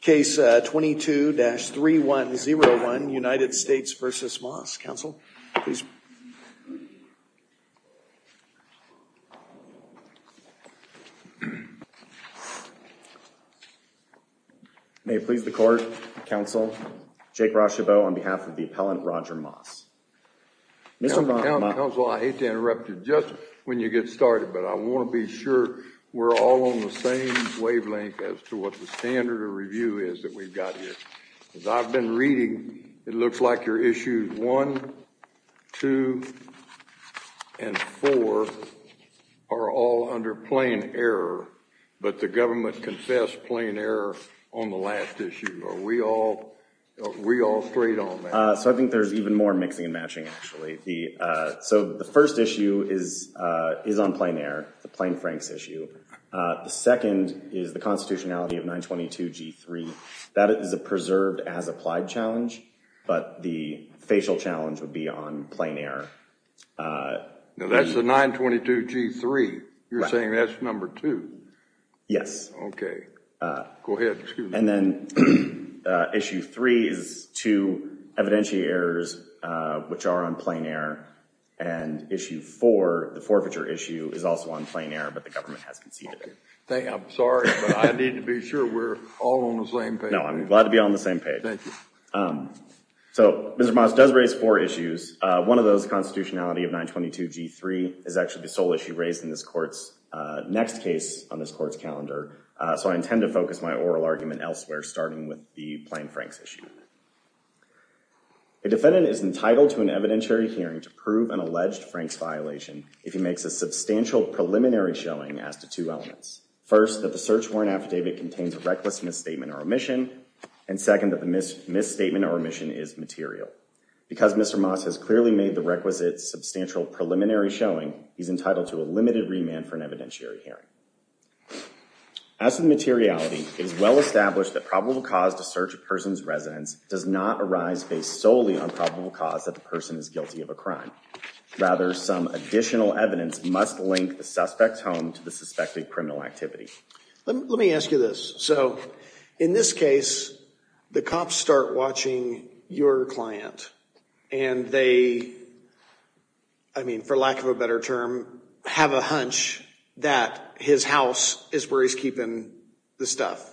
Case 22-3101, United States v. Moss, counsel, please. May it please the court, counsel, Jake Rochebeau on behalf of the appellant, Roger Moss. Counsel, I hate to interrupt you just when you get started, but I want to be sure we're all on the same wavelength as to what the standard of review is that we've got here. As I've been reading, it looks like your issues one, two, and four are all under plain error, but the government confessed plain error on the last issue. Are we all straight on that? So I think there's even more mixing and matching, actually. So the first issue is on plain error, the plain-franks issue. The second is the constitutionality of 922G3. That is a preserved as applied challenge, but the facial challenge would be on plain error. Now, that's the 922G3. You're saying that's number two? Yes. Okay. Go ahead. And then issue three is two evidentiary errors, which are on plain error, and issue four, the forfeiture issue, is also on plain error, but the government has conceded it. Okay. I'm sorry, but I need to be sure we're all on the same page. No, I'm glad to be on the same page. Thank you. So Mr. Moss does raise four issues. One of those, constitutionality of 922G3, is actually the sole issue raised in this court's next case on this court's calendar, so I intend to focus my oral argument elsewhere, starting with the plain-franks issue. A defendant is entitled to an evidentiary hearing to prove an alleged Franks violation if he makes a substantial preliminary showing as to two elements. First, that the search warrant affidavit contains a reckless misstatement or omission, and second, that the misstatement or omission is material. Because Mr. Moss has clearly made the requisite substantial preliminary showing, he's entitled to a limited remand for an evidentiary hearing. As for the materiality, it is well established that probable cause to search a person's residence does not arise based solely on probable cause that the person is guilty of a crime. Rather, some additional evidence must link the suspect's home to the suspected criminal activity. Let me ask you this. So, in this case, the cops start watching your client, and they, I mean, for lack of a better term, have a hunch that his house is where he's keeping the stuff.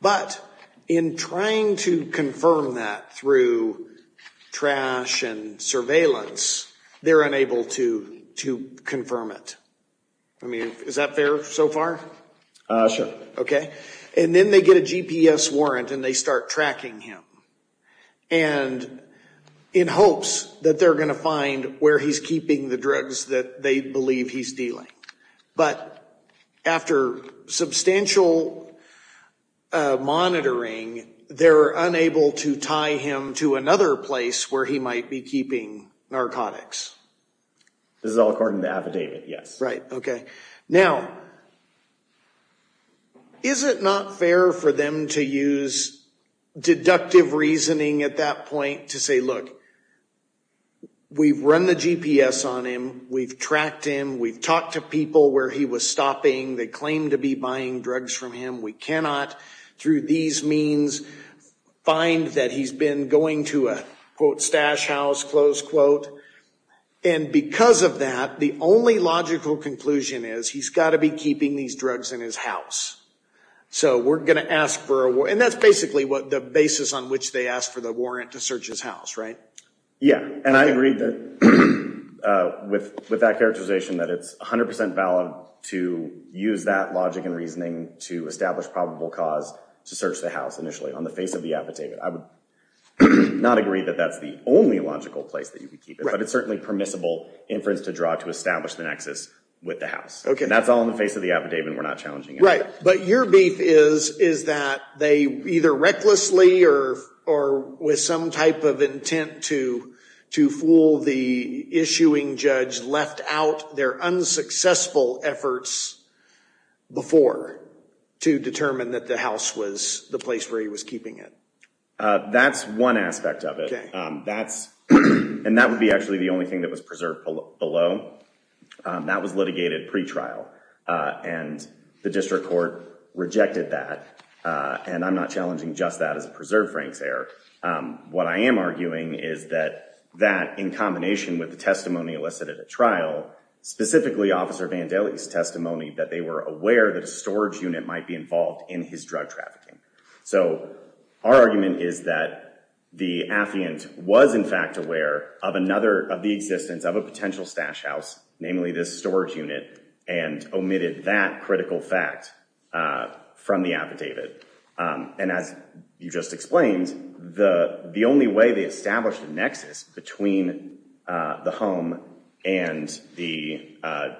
But in trying to confirm that through trash and surveillance, they're unable to confirm it. I mean, is that fair so far? Sure. Okay. And then they get a GPS warrant, and they start tracking him. And in hopes that they're going to find where he's keeping the drugs that they believe he's dealing. But after substantial monitoring, they're unable to tie him to another place where he might be keeping narcotics. This is all according to affidavit, yes. Right, okay. Now, is it not fair for them to use deductive reasoning at that point to say, look, we've run the GPS on him, we've tracked him, we've talked to people where he was stopping. They claim to be buying drugs from him. We cannot, through these means, find that he's been going to a, quote, stash house, close quote. And because of that, the only logical conclusion is he's got to be keeping these drugs in his house. So we're going to ask for a warrant. And that's basically the basis on which they ask for the warrant to search his house, right? Yeah. And I agree with that characterization that it's 100% valid to use that logic and reasoning to establish probable cause to search the house initially on the face of the affidavit. I would not agree that that's the only logical place that you could keep it. Right. But it's certainly permissible inference to draw to establish the nexus with the house. Okay. And that's all on the face of the affidavit, and we're not challenging it. Right. But your beef is, is that they either recklessly or with some type of intent to fool the issuing judge, their unsuccessful efforts before to determine that the house was the place where he was keeping it? That's one aspect of it. Okay. That's, and that would be actually the only thing that was preserved below. That was litigated pretrial, and the district court rejected that. And I'm not challenging just that as a preserved Frank's error. What I am arguing is that that, in combination with the testimony elicited at trial, specifically Officer Vandelli's testimony, that they were aware that a storage unit might be involved in his drug trafficking. So our argument is that the affiant was in fact aware of another, of the existence of a potential stash house, namely this storage unit, and omitted that critical fact from the affidavit. And as you just explained, the only way they established a nexus between the home and the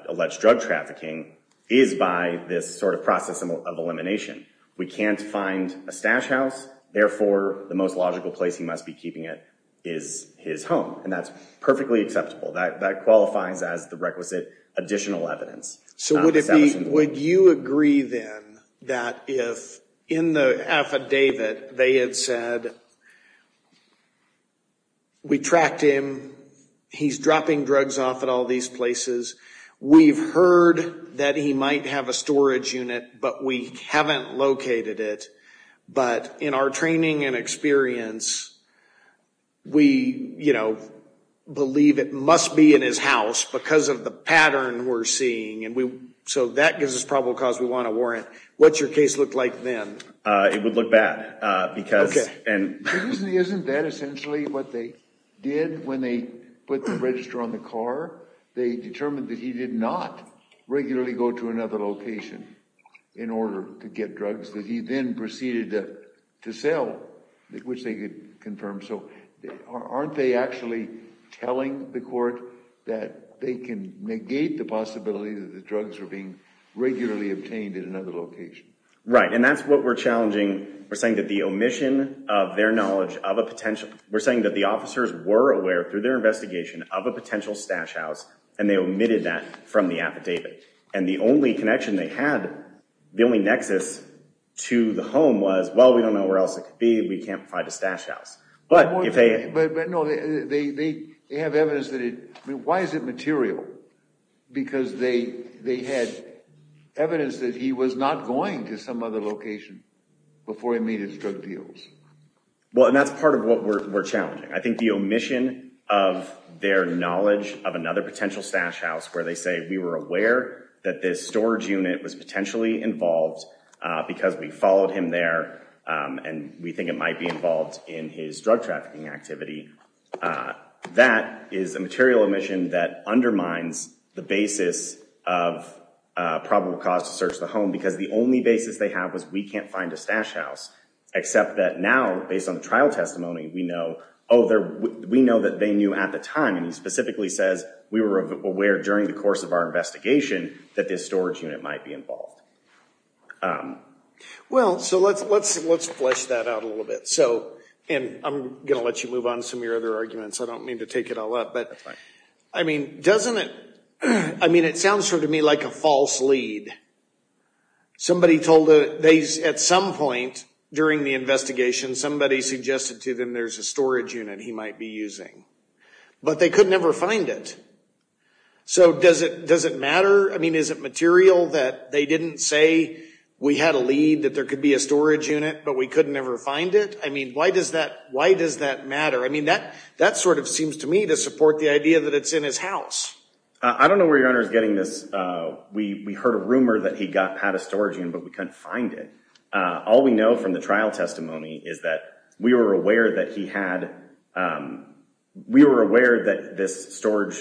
alleged drug trafficking is by this sort of process of elimination. We can't find a stash house. Therefore, the most logical place he must be keeping it is his home, and that's perfectly acceptable. That qualifies as the requisite additional evidence. So would it be, would you agree then that if in the affidavit they had said, we tracked him, he's dropping drugs off at all these places, we've heard that he might have a storage unit, but we haven't located it. But in our training and experience, we, you know, believe it must be in his house because of the pattern we're seeing. And so that gives us probable cause. We want a warrant. What's your case look like then? It would look bad. Isn't that essentially what they did when they put the register on the car? They determined that he did not regularly go to another location in order to get drugs that he then proceeded to sell, which they could confirm. So aren't they actually telling the court that they can negate the possibility that the drugs are being regularly obtained in another location? Right, and that's what we're challenging. We're saying that the omission of their knowledge of a potential, we're saying that the officers were aware through their investigation of a potential stash house, and they omitted that from the affidavit. And the only connection they had, the only nexus to the home was, well, we don't know where else it could be. We can't find a stash house. But no, they have evidence that it, I mean, why is it material? Because they had evidence that he was not going to some other location before he made his drug deals. Well, and that's part of what we're challenging. I think the omission of their knowledge of another potential stash house where they say we were aware that this storage unit was potentially involved because we followed him there and we think it might be involved in his drug trafficking activity. That is a material omission that undermines the basis of probable cause to search the home because the only basis they have was we can't find a stash house. Except that now, based on the trial testimony, we know, oh, we know that they knew at the time, and he specifically says we were aware during the course of our investigation that this storage unit might be involved. Well, so let's flesh that out a little bit. So, and I'm going to let you move on to some of your other arguments. I don't mean to take it all up. That's fine. I mean, doesn't it, I mean, it sounds to me like a false lead. Somebody told, at some point during the investigation, somebody suggested to them there's a storage unit he might be using. But they could never find it. So does it matter? I mean, is it material that they didn't say we had a lead that there could be a storage unit, but we couldn't ever find it? I mean, why does that matter? I mean, that sort of seems to me to support the idea that it's in his house. I don't know where your Honor is getting this. We heard a rumor that he had a storage unit, but we couldn't find it. All we know from the trial testimony is that we were aware that he had, we were aware that this storage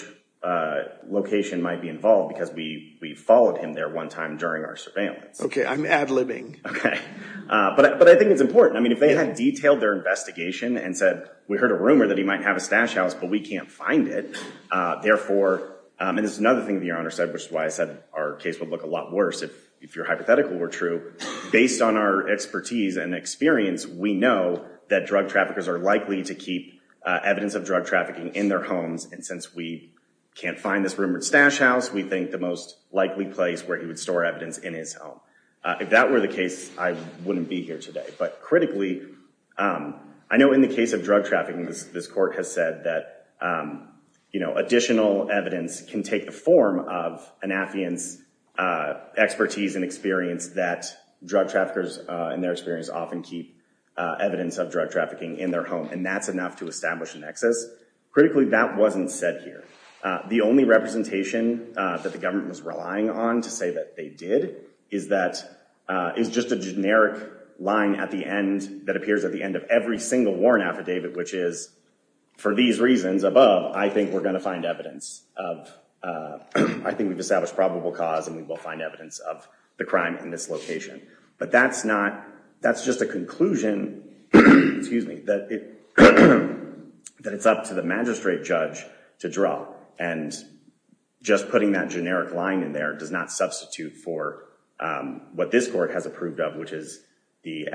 location might be involved because we followed him there one time during our surveillance. Okay, I'm ad-libbing. Okay. But I think it's important. I mean, if they had detailed their investigation and said, we heard a rumor that he might have a stash house, but we can't find it. And this is another thing that your Honor said, which is why I said our case would look a lot worse if your hypothetical were true. Based on our expertise and experience, we know that drug traffickers are likely to keep evidence of drug trafficking in their homes. And since we can't find this rumored stash house, we think the most likely place where he would store evidence in his home. If that were the case, I wouldn't be here today. But critically, I know in the case of drug trafficking, this court has said that, you know, additional evidence can take the form of an affiant's expertise and experience that drug traffickers in their experience often keep evidence of drug trafficking in their home. And that's enough to establish an excess. Critically, that wasn't said here. The only representation that the government was relying on to say that they did is that is just a generic line at the end that appears at the end of every single warrant affidavit, which is, for these reasons above, I think we're going to find evidence of, I think we've established probable cause and we will find evidence of the crime in this location. But that's not, that's just a conclusion, excuse me, that it's up to the magistrate judge to draw. And just putting that generic line in there does not substitute for what this court has approved of, which is the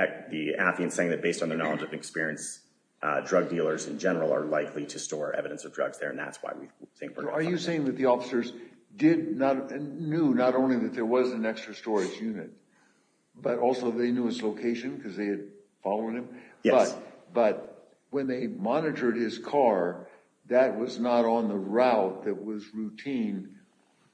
affiant saying that based on their knowledge of experience, drug dealers in general are likely to store evidence of drugs there. Are you saying that the officers did not, knew not only that there was an extra storage unit, but also they knew his location because they had followed him? Yes. But when they monitored his car, that was not on the route that was routine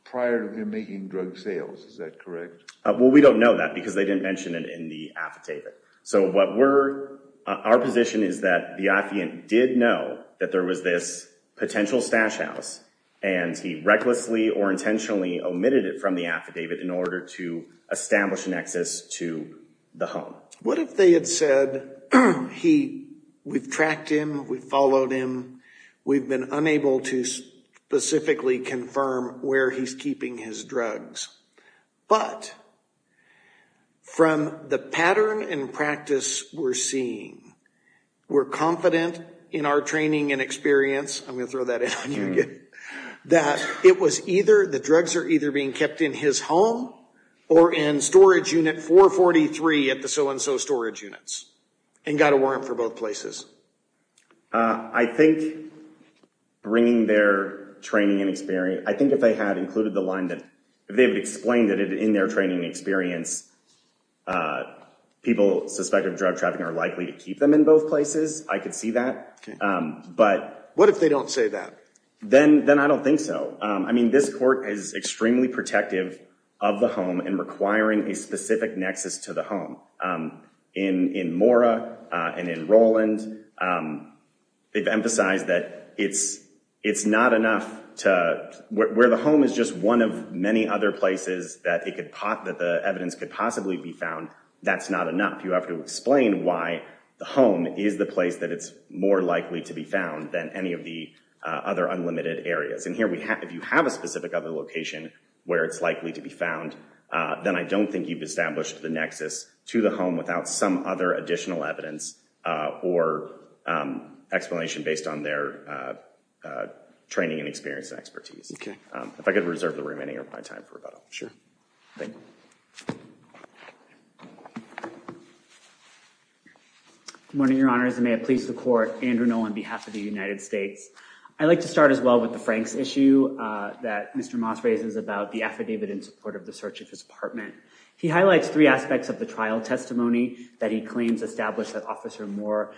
prior to him making drug sales, is that correct? Well, we don't know that because they didn't mention it in the affidavit. So what we're, our position is that the affiant did know that there was this potential stash house and he recklessly or intentionally omitted it from the affidavit in order to establish an access to the home. What if they had said, we've tracked him, we've followed him, we've been unable to specifically confirm where he's keeping his drugs. But from the pattern and practice we're seeing, we're confident in our training and experience, I'm going to throw that in on you again, that it was either the drugs are either being kept in his home or in storage unit 443 at the so-and-so storage units and got a warrant for both places. I think bringing their training and experience, I think if they had included the line that they would explain that in their training experience, people suspected of drug trafficking are likely to keep them in both places. I could see that. But what if they don't say that? Then then I don't think so. I mean, this court is extremely protective of the home and requiring a specific nexus to the home. In Mora and in Roland, they've emphasized that it's it's not enough to where the home is just one of many other places that it could pot that the evidence could possibly be found. That's not enough. You have to explain why the home is the place that it's more likely to be found than any of the other unlimited areas. And here we have if you have a specific other location where it's likely to be found, then I don't think you've established the nexus to the home without some other additional evidence or explanation based on their training and experience expertise. If I could reserve the remaining of my time for sure. Morning, Your Honor. May it please the court. Andrew Nolan, behalf of the United States. I'd like to start as well with the Franks issue that Mr. Moss raises about the affidavit in support of the search of his apartment. He highlights three aspects of the trial testimony that he claims established that officer more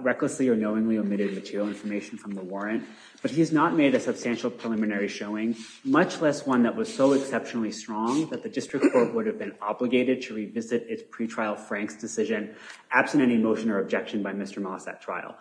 recklessly or knowingly omitted material information from the warrant. But he has not made a substantial preliminary showing, much less one that was so exceptionally strong that the district court would have been obligated to revisit its pretrial Franks decision, absent any motion or objection by Mr. Moss at trial.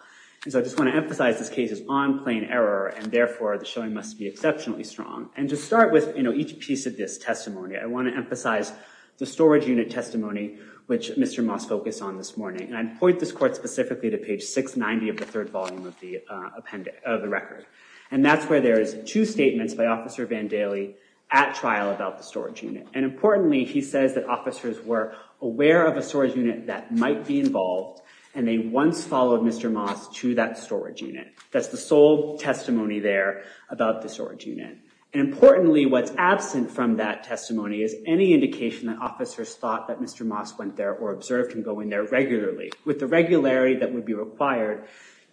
And so I just want to emphasize this case is on plain error, and therefore the showing must be exceptionally strong. And to start with each piece of this testimony, I want to emphasize the storage unit testimony, which Mr. Moss focused on this morning. And I point this court specifically to page 690 of the third volume of the record. And that's where there is two statements by Officer Vandaley at trial about the storage unit. And importantly, he says that officers were aware of a storage unit that might be involved, and they once followed Mr. Moss to that storage unit. That's the sole testimony there about the storage unit. And importantly, what's absent from that testimony is any indication that officers thought that Mr. Moss went there or observed him go in there regularly, with the regularity that would be required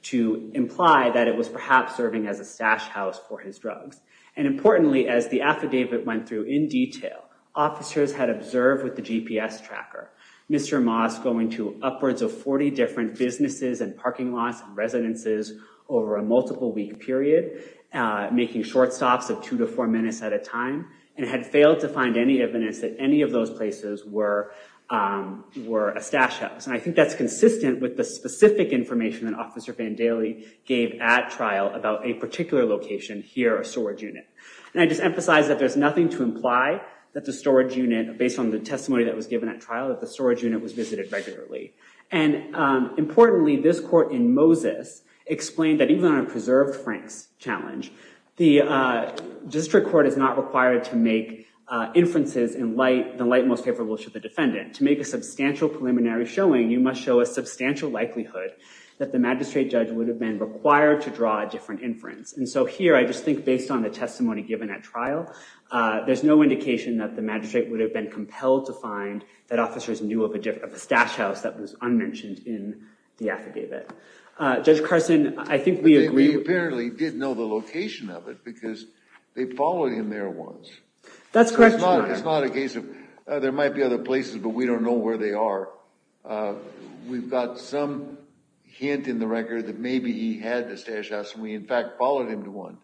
to imply that it was perhaps serving as a stash house for his drugs. And importantly, as the affidavit went through in detail, officers had observed with the GPS tracker, Mr. Moss going to upwards of 40 different businesses and parking lots and residences over a multiple week period, making short stops of two to four minutes at a time, and had failed to find any evidence that any of those places were a stash house. And I think that's consistent with the specific information that Officer Vandaley gave at trial about a particular location here, a storage unit. And I just emphasize that there's nothing to imply that the storage unit, based on the testimony that was given at trial, that the storage unit was visited regularly. And importantly, this court in Moses explained that even on a preserved Franks challenge, the district court is not required to make inferences in the light most favorable to the defendant. To make a substantial preliminary showing, you must show a substantial likelihood that the magistrate judge would have been required to draw a different inference. And so here, I just think based on the testimony given at trial, there's no indication that the magistrate would have been compelled to find that officers knew of a stash house that was unmentioned in the affidavit. Judge Carson, I think we agree. We apparently did know the location of it because they followed him there once. That's correct. It's not a case of there might be other places, but we don't know where they are. We've got some hint in the record that maybe he had a stash house, and we in fact followed him to one.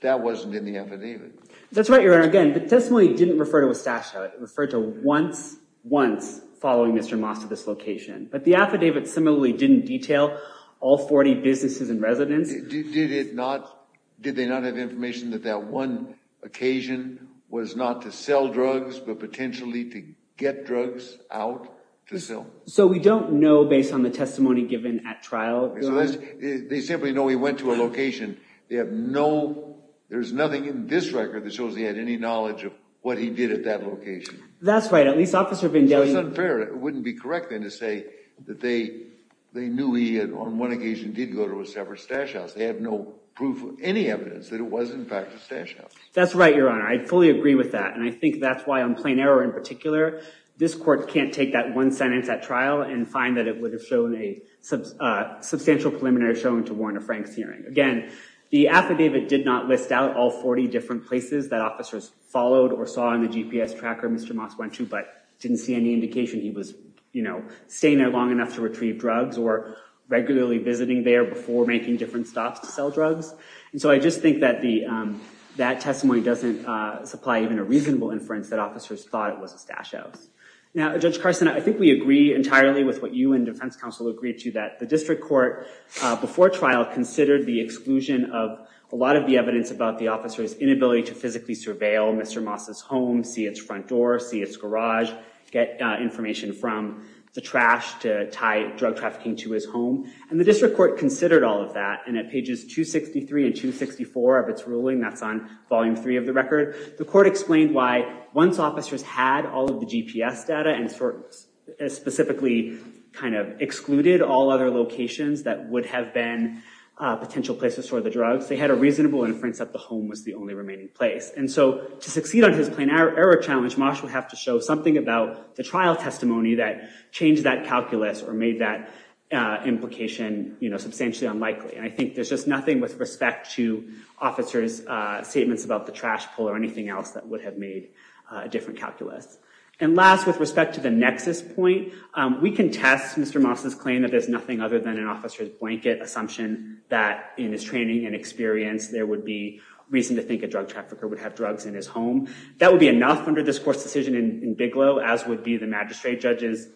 That wasn't in the affidavit. That's right, Your Honor. Again, the testimony didn't refer to a stash house. It referred to once, once following Mr. Moss to this location. But the affidavit similarly didn't detail all 40 businesses and residents. Did they not have information that that one occasion was not to sell drugs but potentially to get drugs out to sell? So we don't know based on the testimony given at trial. They simply know he went to a location. There's nothing in this record that shows he had any knowledge of what he did at that location. That's right. It's unfair. It wouldn't be correct then to say that they knew he on one occasion did go to a separate stash house. They have no proof, any evidence that it was in fact a stash house. That's right, Your Honor. I fully agree with that, and I think that's why on plain error in particular, this court can't take that one sentence at trial and find that it would have shown a substantial preliminary showing to warrant a Franks hearing. Again, the affidavit did not list out all 40 different places that officers followed or saw in the GPS tracker Mr. Moss went to, but didn't see any indication he was staying there long enough to retrieve drugs or regularly visiting there before making different stops to sell drugs. And so I just think that that testimony doesn't supply even a reasonable inference that officers thought it was a stash house. Now, Judge Carson, I think we agree entirely with what you and defense counsel agreed to, that the district court before trial considered the exclusion of a lot of the evidence about the officer's inability to physically surveil Mr. Moss' home, see its front door, see its garage, get information from the trash to tie drug trafficking to his home. And the district court considered all of that. And at pages 263 and 264 of its ruling, that's on volume three of the record, the court explained why once officers had all of the GPS data and specifically kind of excluded all other locations that would have been potential places for the drugs, they had a reasonable inference that the home was the only remaining place. And so to succeed on his plain error challenge, Moss would have to show something about the trial testimony that changed that calculus or made that implication substantially unlikely. And I think there's just nothing with respect to officers' statements about the trash pull or anything else that would have made a different calculus. And last, with respect to the nexus point, we can test Mr. Moss' claim that there's nothing other than an officer's blanket assumption that in his training and experience, there would be reason to think a drug trafficker would have drugs in his home. That would be enough under this court's decision in Bigelow, as would be the magistrate judge's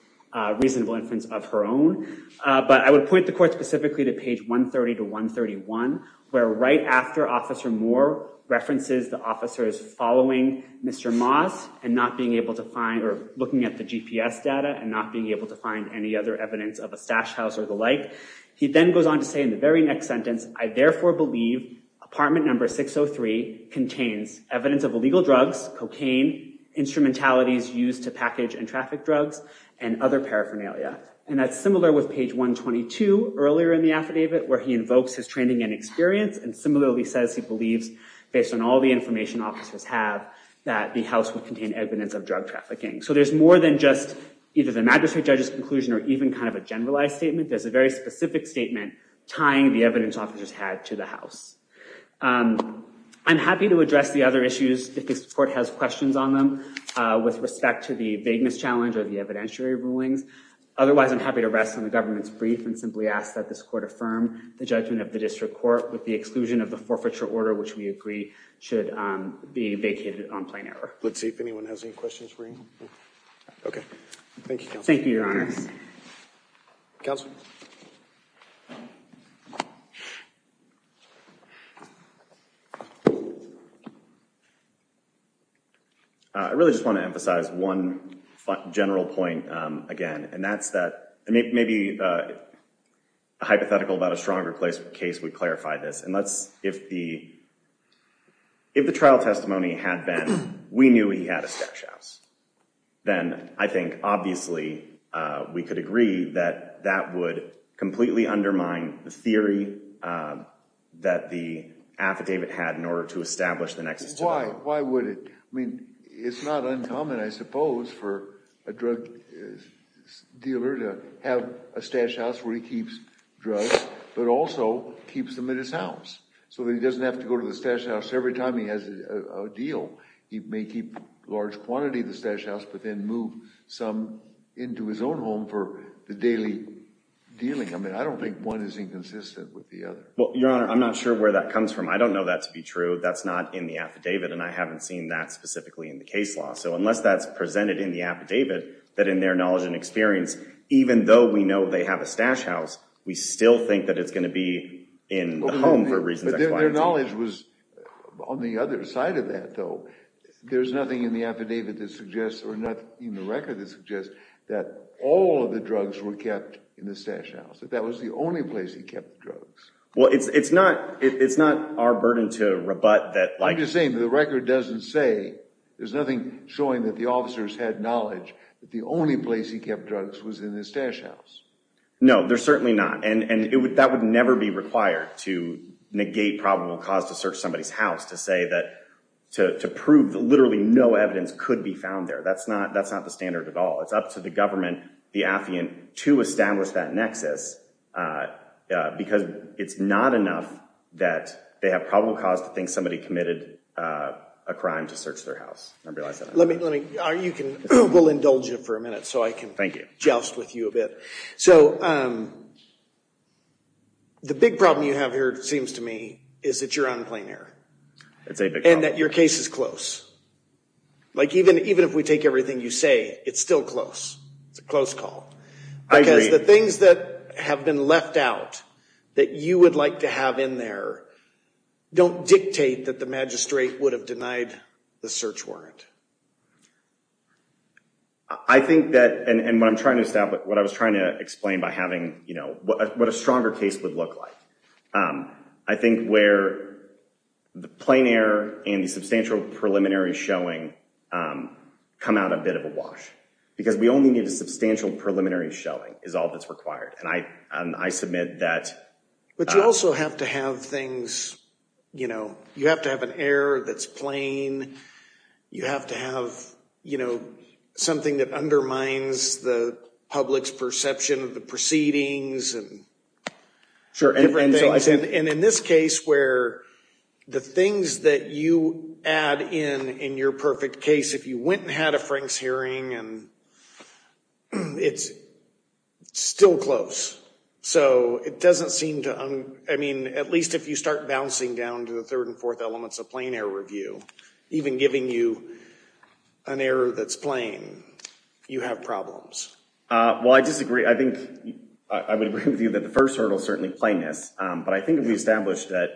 reasonable inference of her own. But I would point the court specifically to page 130 to 131, where right after Officer Moore references the officers following Mr. Moss and not being able to find or looking at the GPS data and not being able to find any other evidence of a stash house or the like, he then goes on to say in the very next sentence, I therefore believe apartment number 603 contains evidence of illegal drugs, cocaine, instrumentalities used to package and traffic drugs, and other paraphernalia. And that's similar with page 122 earlier in the affidavit, where he invokes his training and experience, and similarly says he believes, based on all the information officers have, that the house would contain evidence of drug trafficking. So there's more than just either the magistrate judge's conclusion or even kind of a generalized statement. There's a very specific statement tying the evidence officers had to the house. I'm happy to address the other issues if this court has questions on them with respect to the vagueness challenge or the evidentiary rulings. Otherwise, I'm happy to rest on the government's brief and simply ask that this court affirm the judgment of the district court with the exclusion of the forfeiture order, which we agree should be vacated on plain error. Let's see if anyone has any questions for you. OK. Thank you, Your Honor. Counsel. I really just want to emphasize one general point again, and that's that maybe a hypothetical about a stronger case would clarify this. And if the trial testimony had been, we knew he had a stash house, then I think, obviously, we could agree that that would completely undermine the theory that the affidavit had in order to establish the nexus to the law. Why would it? I mean, it's not uncommon, I suppose, for a drug dealer to have a stash house where he keeps drugs, but also keeps them in his house. So he doesn't have to go to the stash house every time he has a deal. He may keep a large quantity of the stash house, but then move some into his own home for the daily dealing. I mean, I don't think one is inconsistent with the other. Well, Your Honor, I'm not sure where that comes from. I don't know that to be true. That's not in the affidavit, and I haven't seen that specifically in the case law. So unless that's presented in the affidavit, that in their knowledge and experience, even though we know they have a stash house, we still think that it's going to be in the home for reasons explained. But their knowledge was on the other side of that, though. There's nothing in the affidavit that suggests, or nothing in the record that suggests, that all of the drugs were kept in the stash house, that that was the only place he kept drugs. Well, it's not our burden to rebut that. I'm just saying that the record doesn't say, there's nothing showing that the officers had knowledge that the only place he kept drugs was in his stash house. No, there's certainly not. And that would never be required to negate probable cause to search somebody's house to say that, to prove that literally no evidence could be found there. That's not the standard at all. It's up to the government, the affiant, to establish that nexus. Because it's not enough that they have probable cause to think somebody committed a crime to search their house. We'll indulge you for a minute so I can joust with you a bit. So the big problem you have here, it seems to me, is that you're on plain air. It's a big problem. And that your case is close. Like, even if we take everything you say, it's still close. It's a close call. I agree. Because the things that have been left out that you would like to have in there don't dictate that the magistrate would have denied the search warrant. I think that, and what I'm trying to establish, what I was trying to explain by having, you know, what a stronger case would look like. I think where the plain air and the substantial preliminary showing come out a bit of a wash. Because we only need a substantial preliminary showing is all that's required. And I submit that. But you also have to have things, you know, you have to have an air that's plain. You have to have, you know, something that undermines the public's perception of the proceedings. Sure. And in this case where the things that you add in in your perfect case, if you went and had a Frank's hearing, it's still close. So it doesn't seem to, I mean, at least if you start bouncing down to the third and fourth elements of plain air review, even giving you an air that's plain, you have problems. Well, I disagree. I think I would agree with you that the first hurdle is certainly plainness. But I think if we established that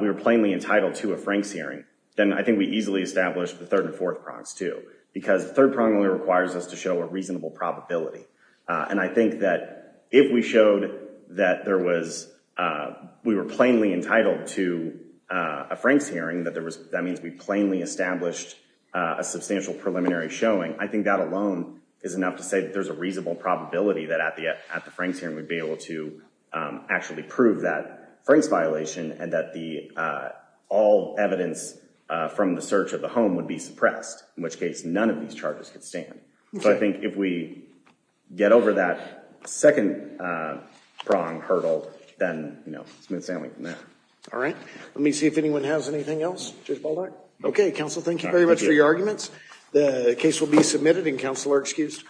we were plainly entitled to a Frank's hearing, then I think we easily established the third and fourth prongs too. Because the third prong only requires us to show a reasonable probability. And I think that if we showed that there was, we were plainly entitled to a Frank's hearing, that means we plainly established a substantial preliminary showing. I think that alone is enough to say that there's a reasonable probability that at the Frank's hearing we'd be able to actually prove that Frank's violation and that all evidence from the search of the home would be suppressed. In which case, none of these charges could stand. So I think if we get over that second prong hurdle, then, you know, it's smooth sailing from there. All right. Let me see if anyone has anything else. Judge Baldock. Okay. Counsel, thank you very much for your arguments. The case will be submitted and counsel are excused.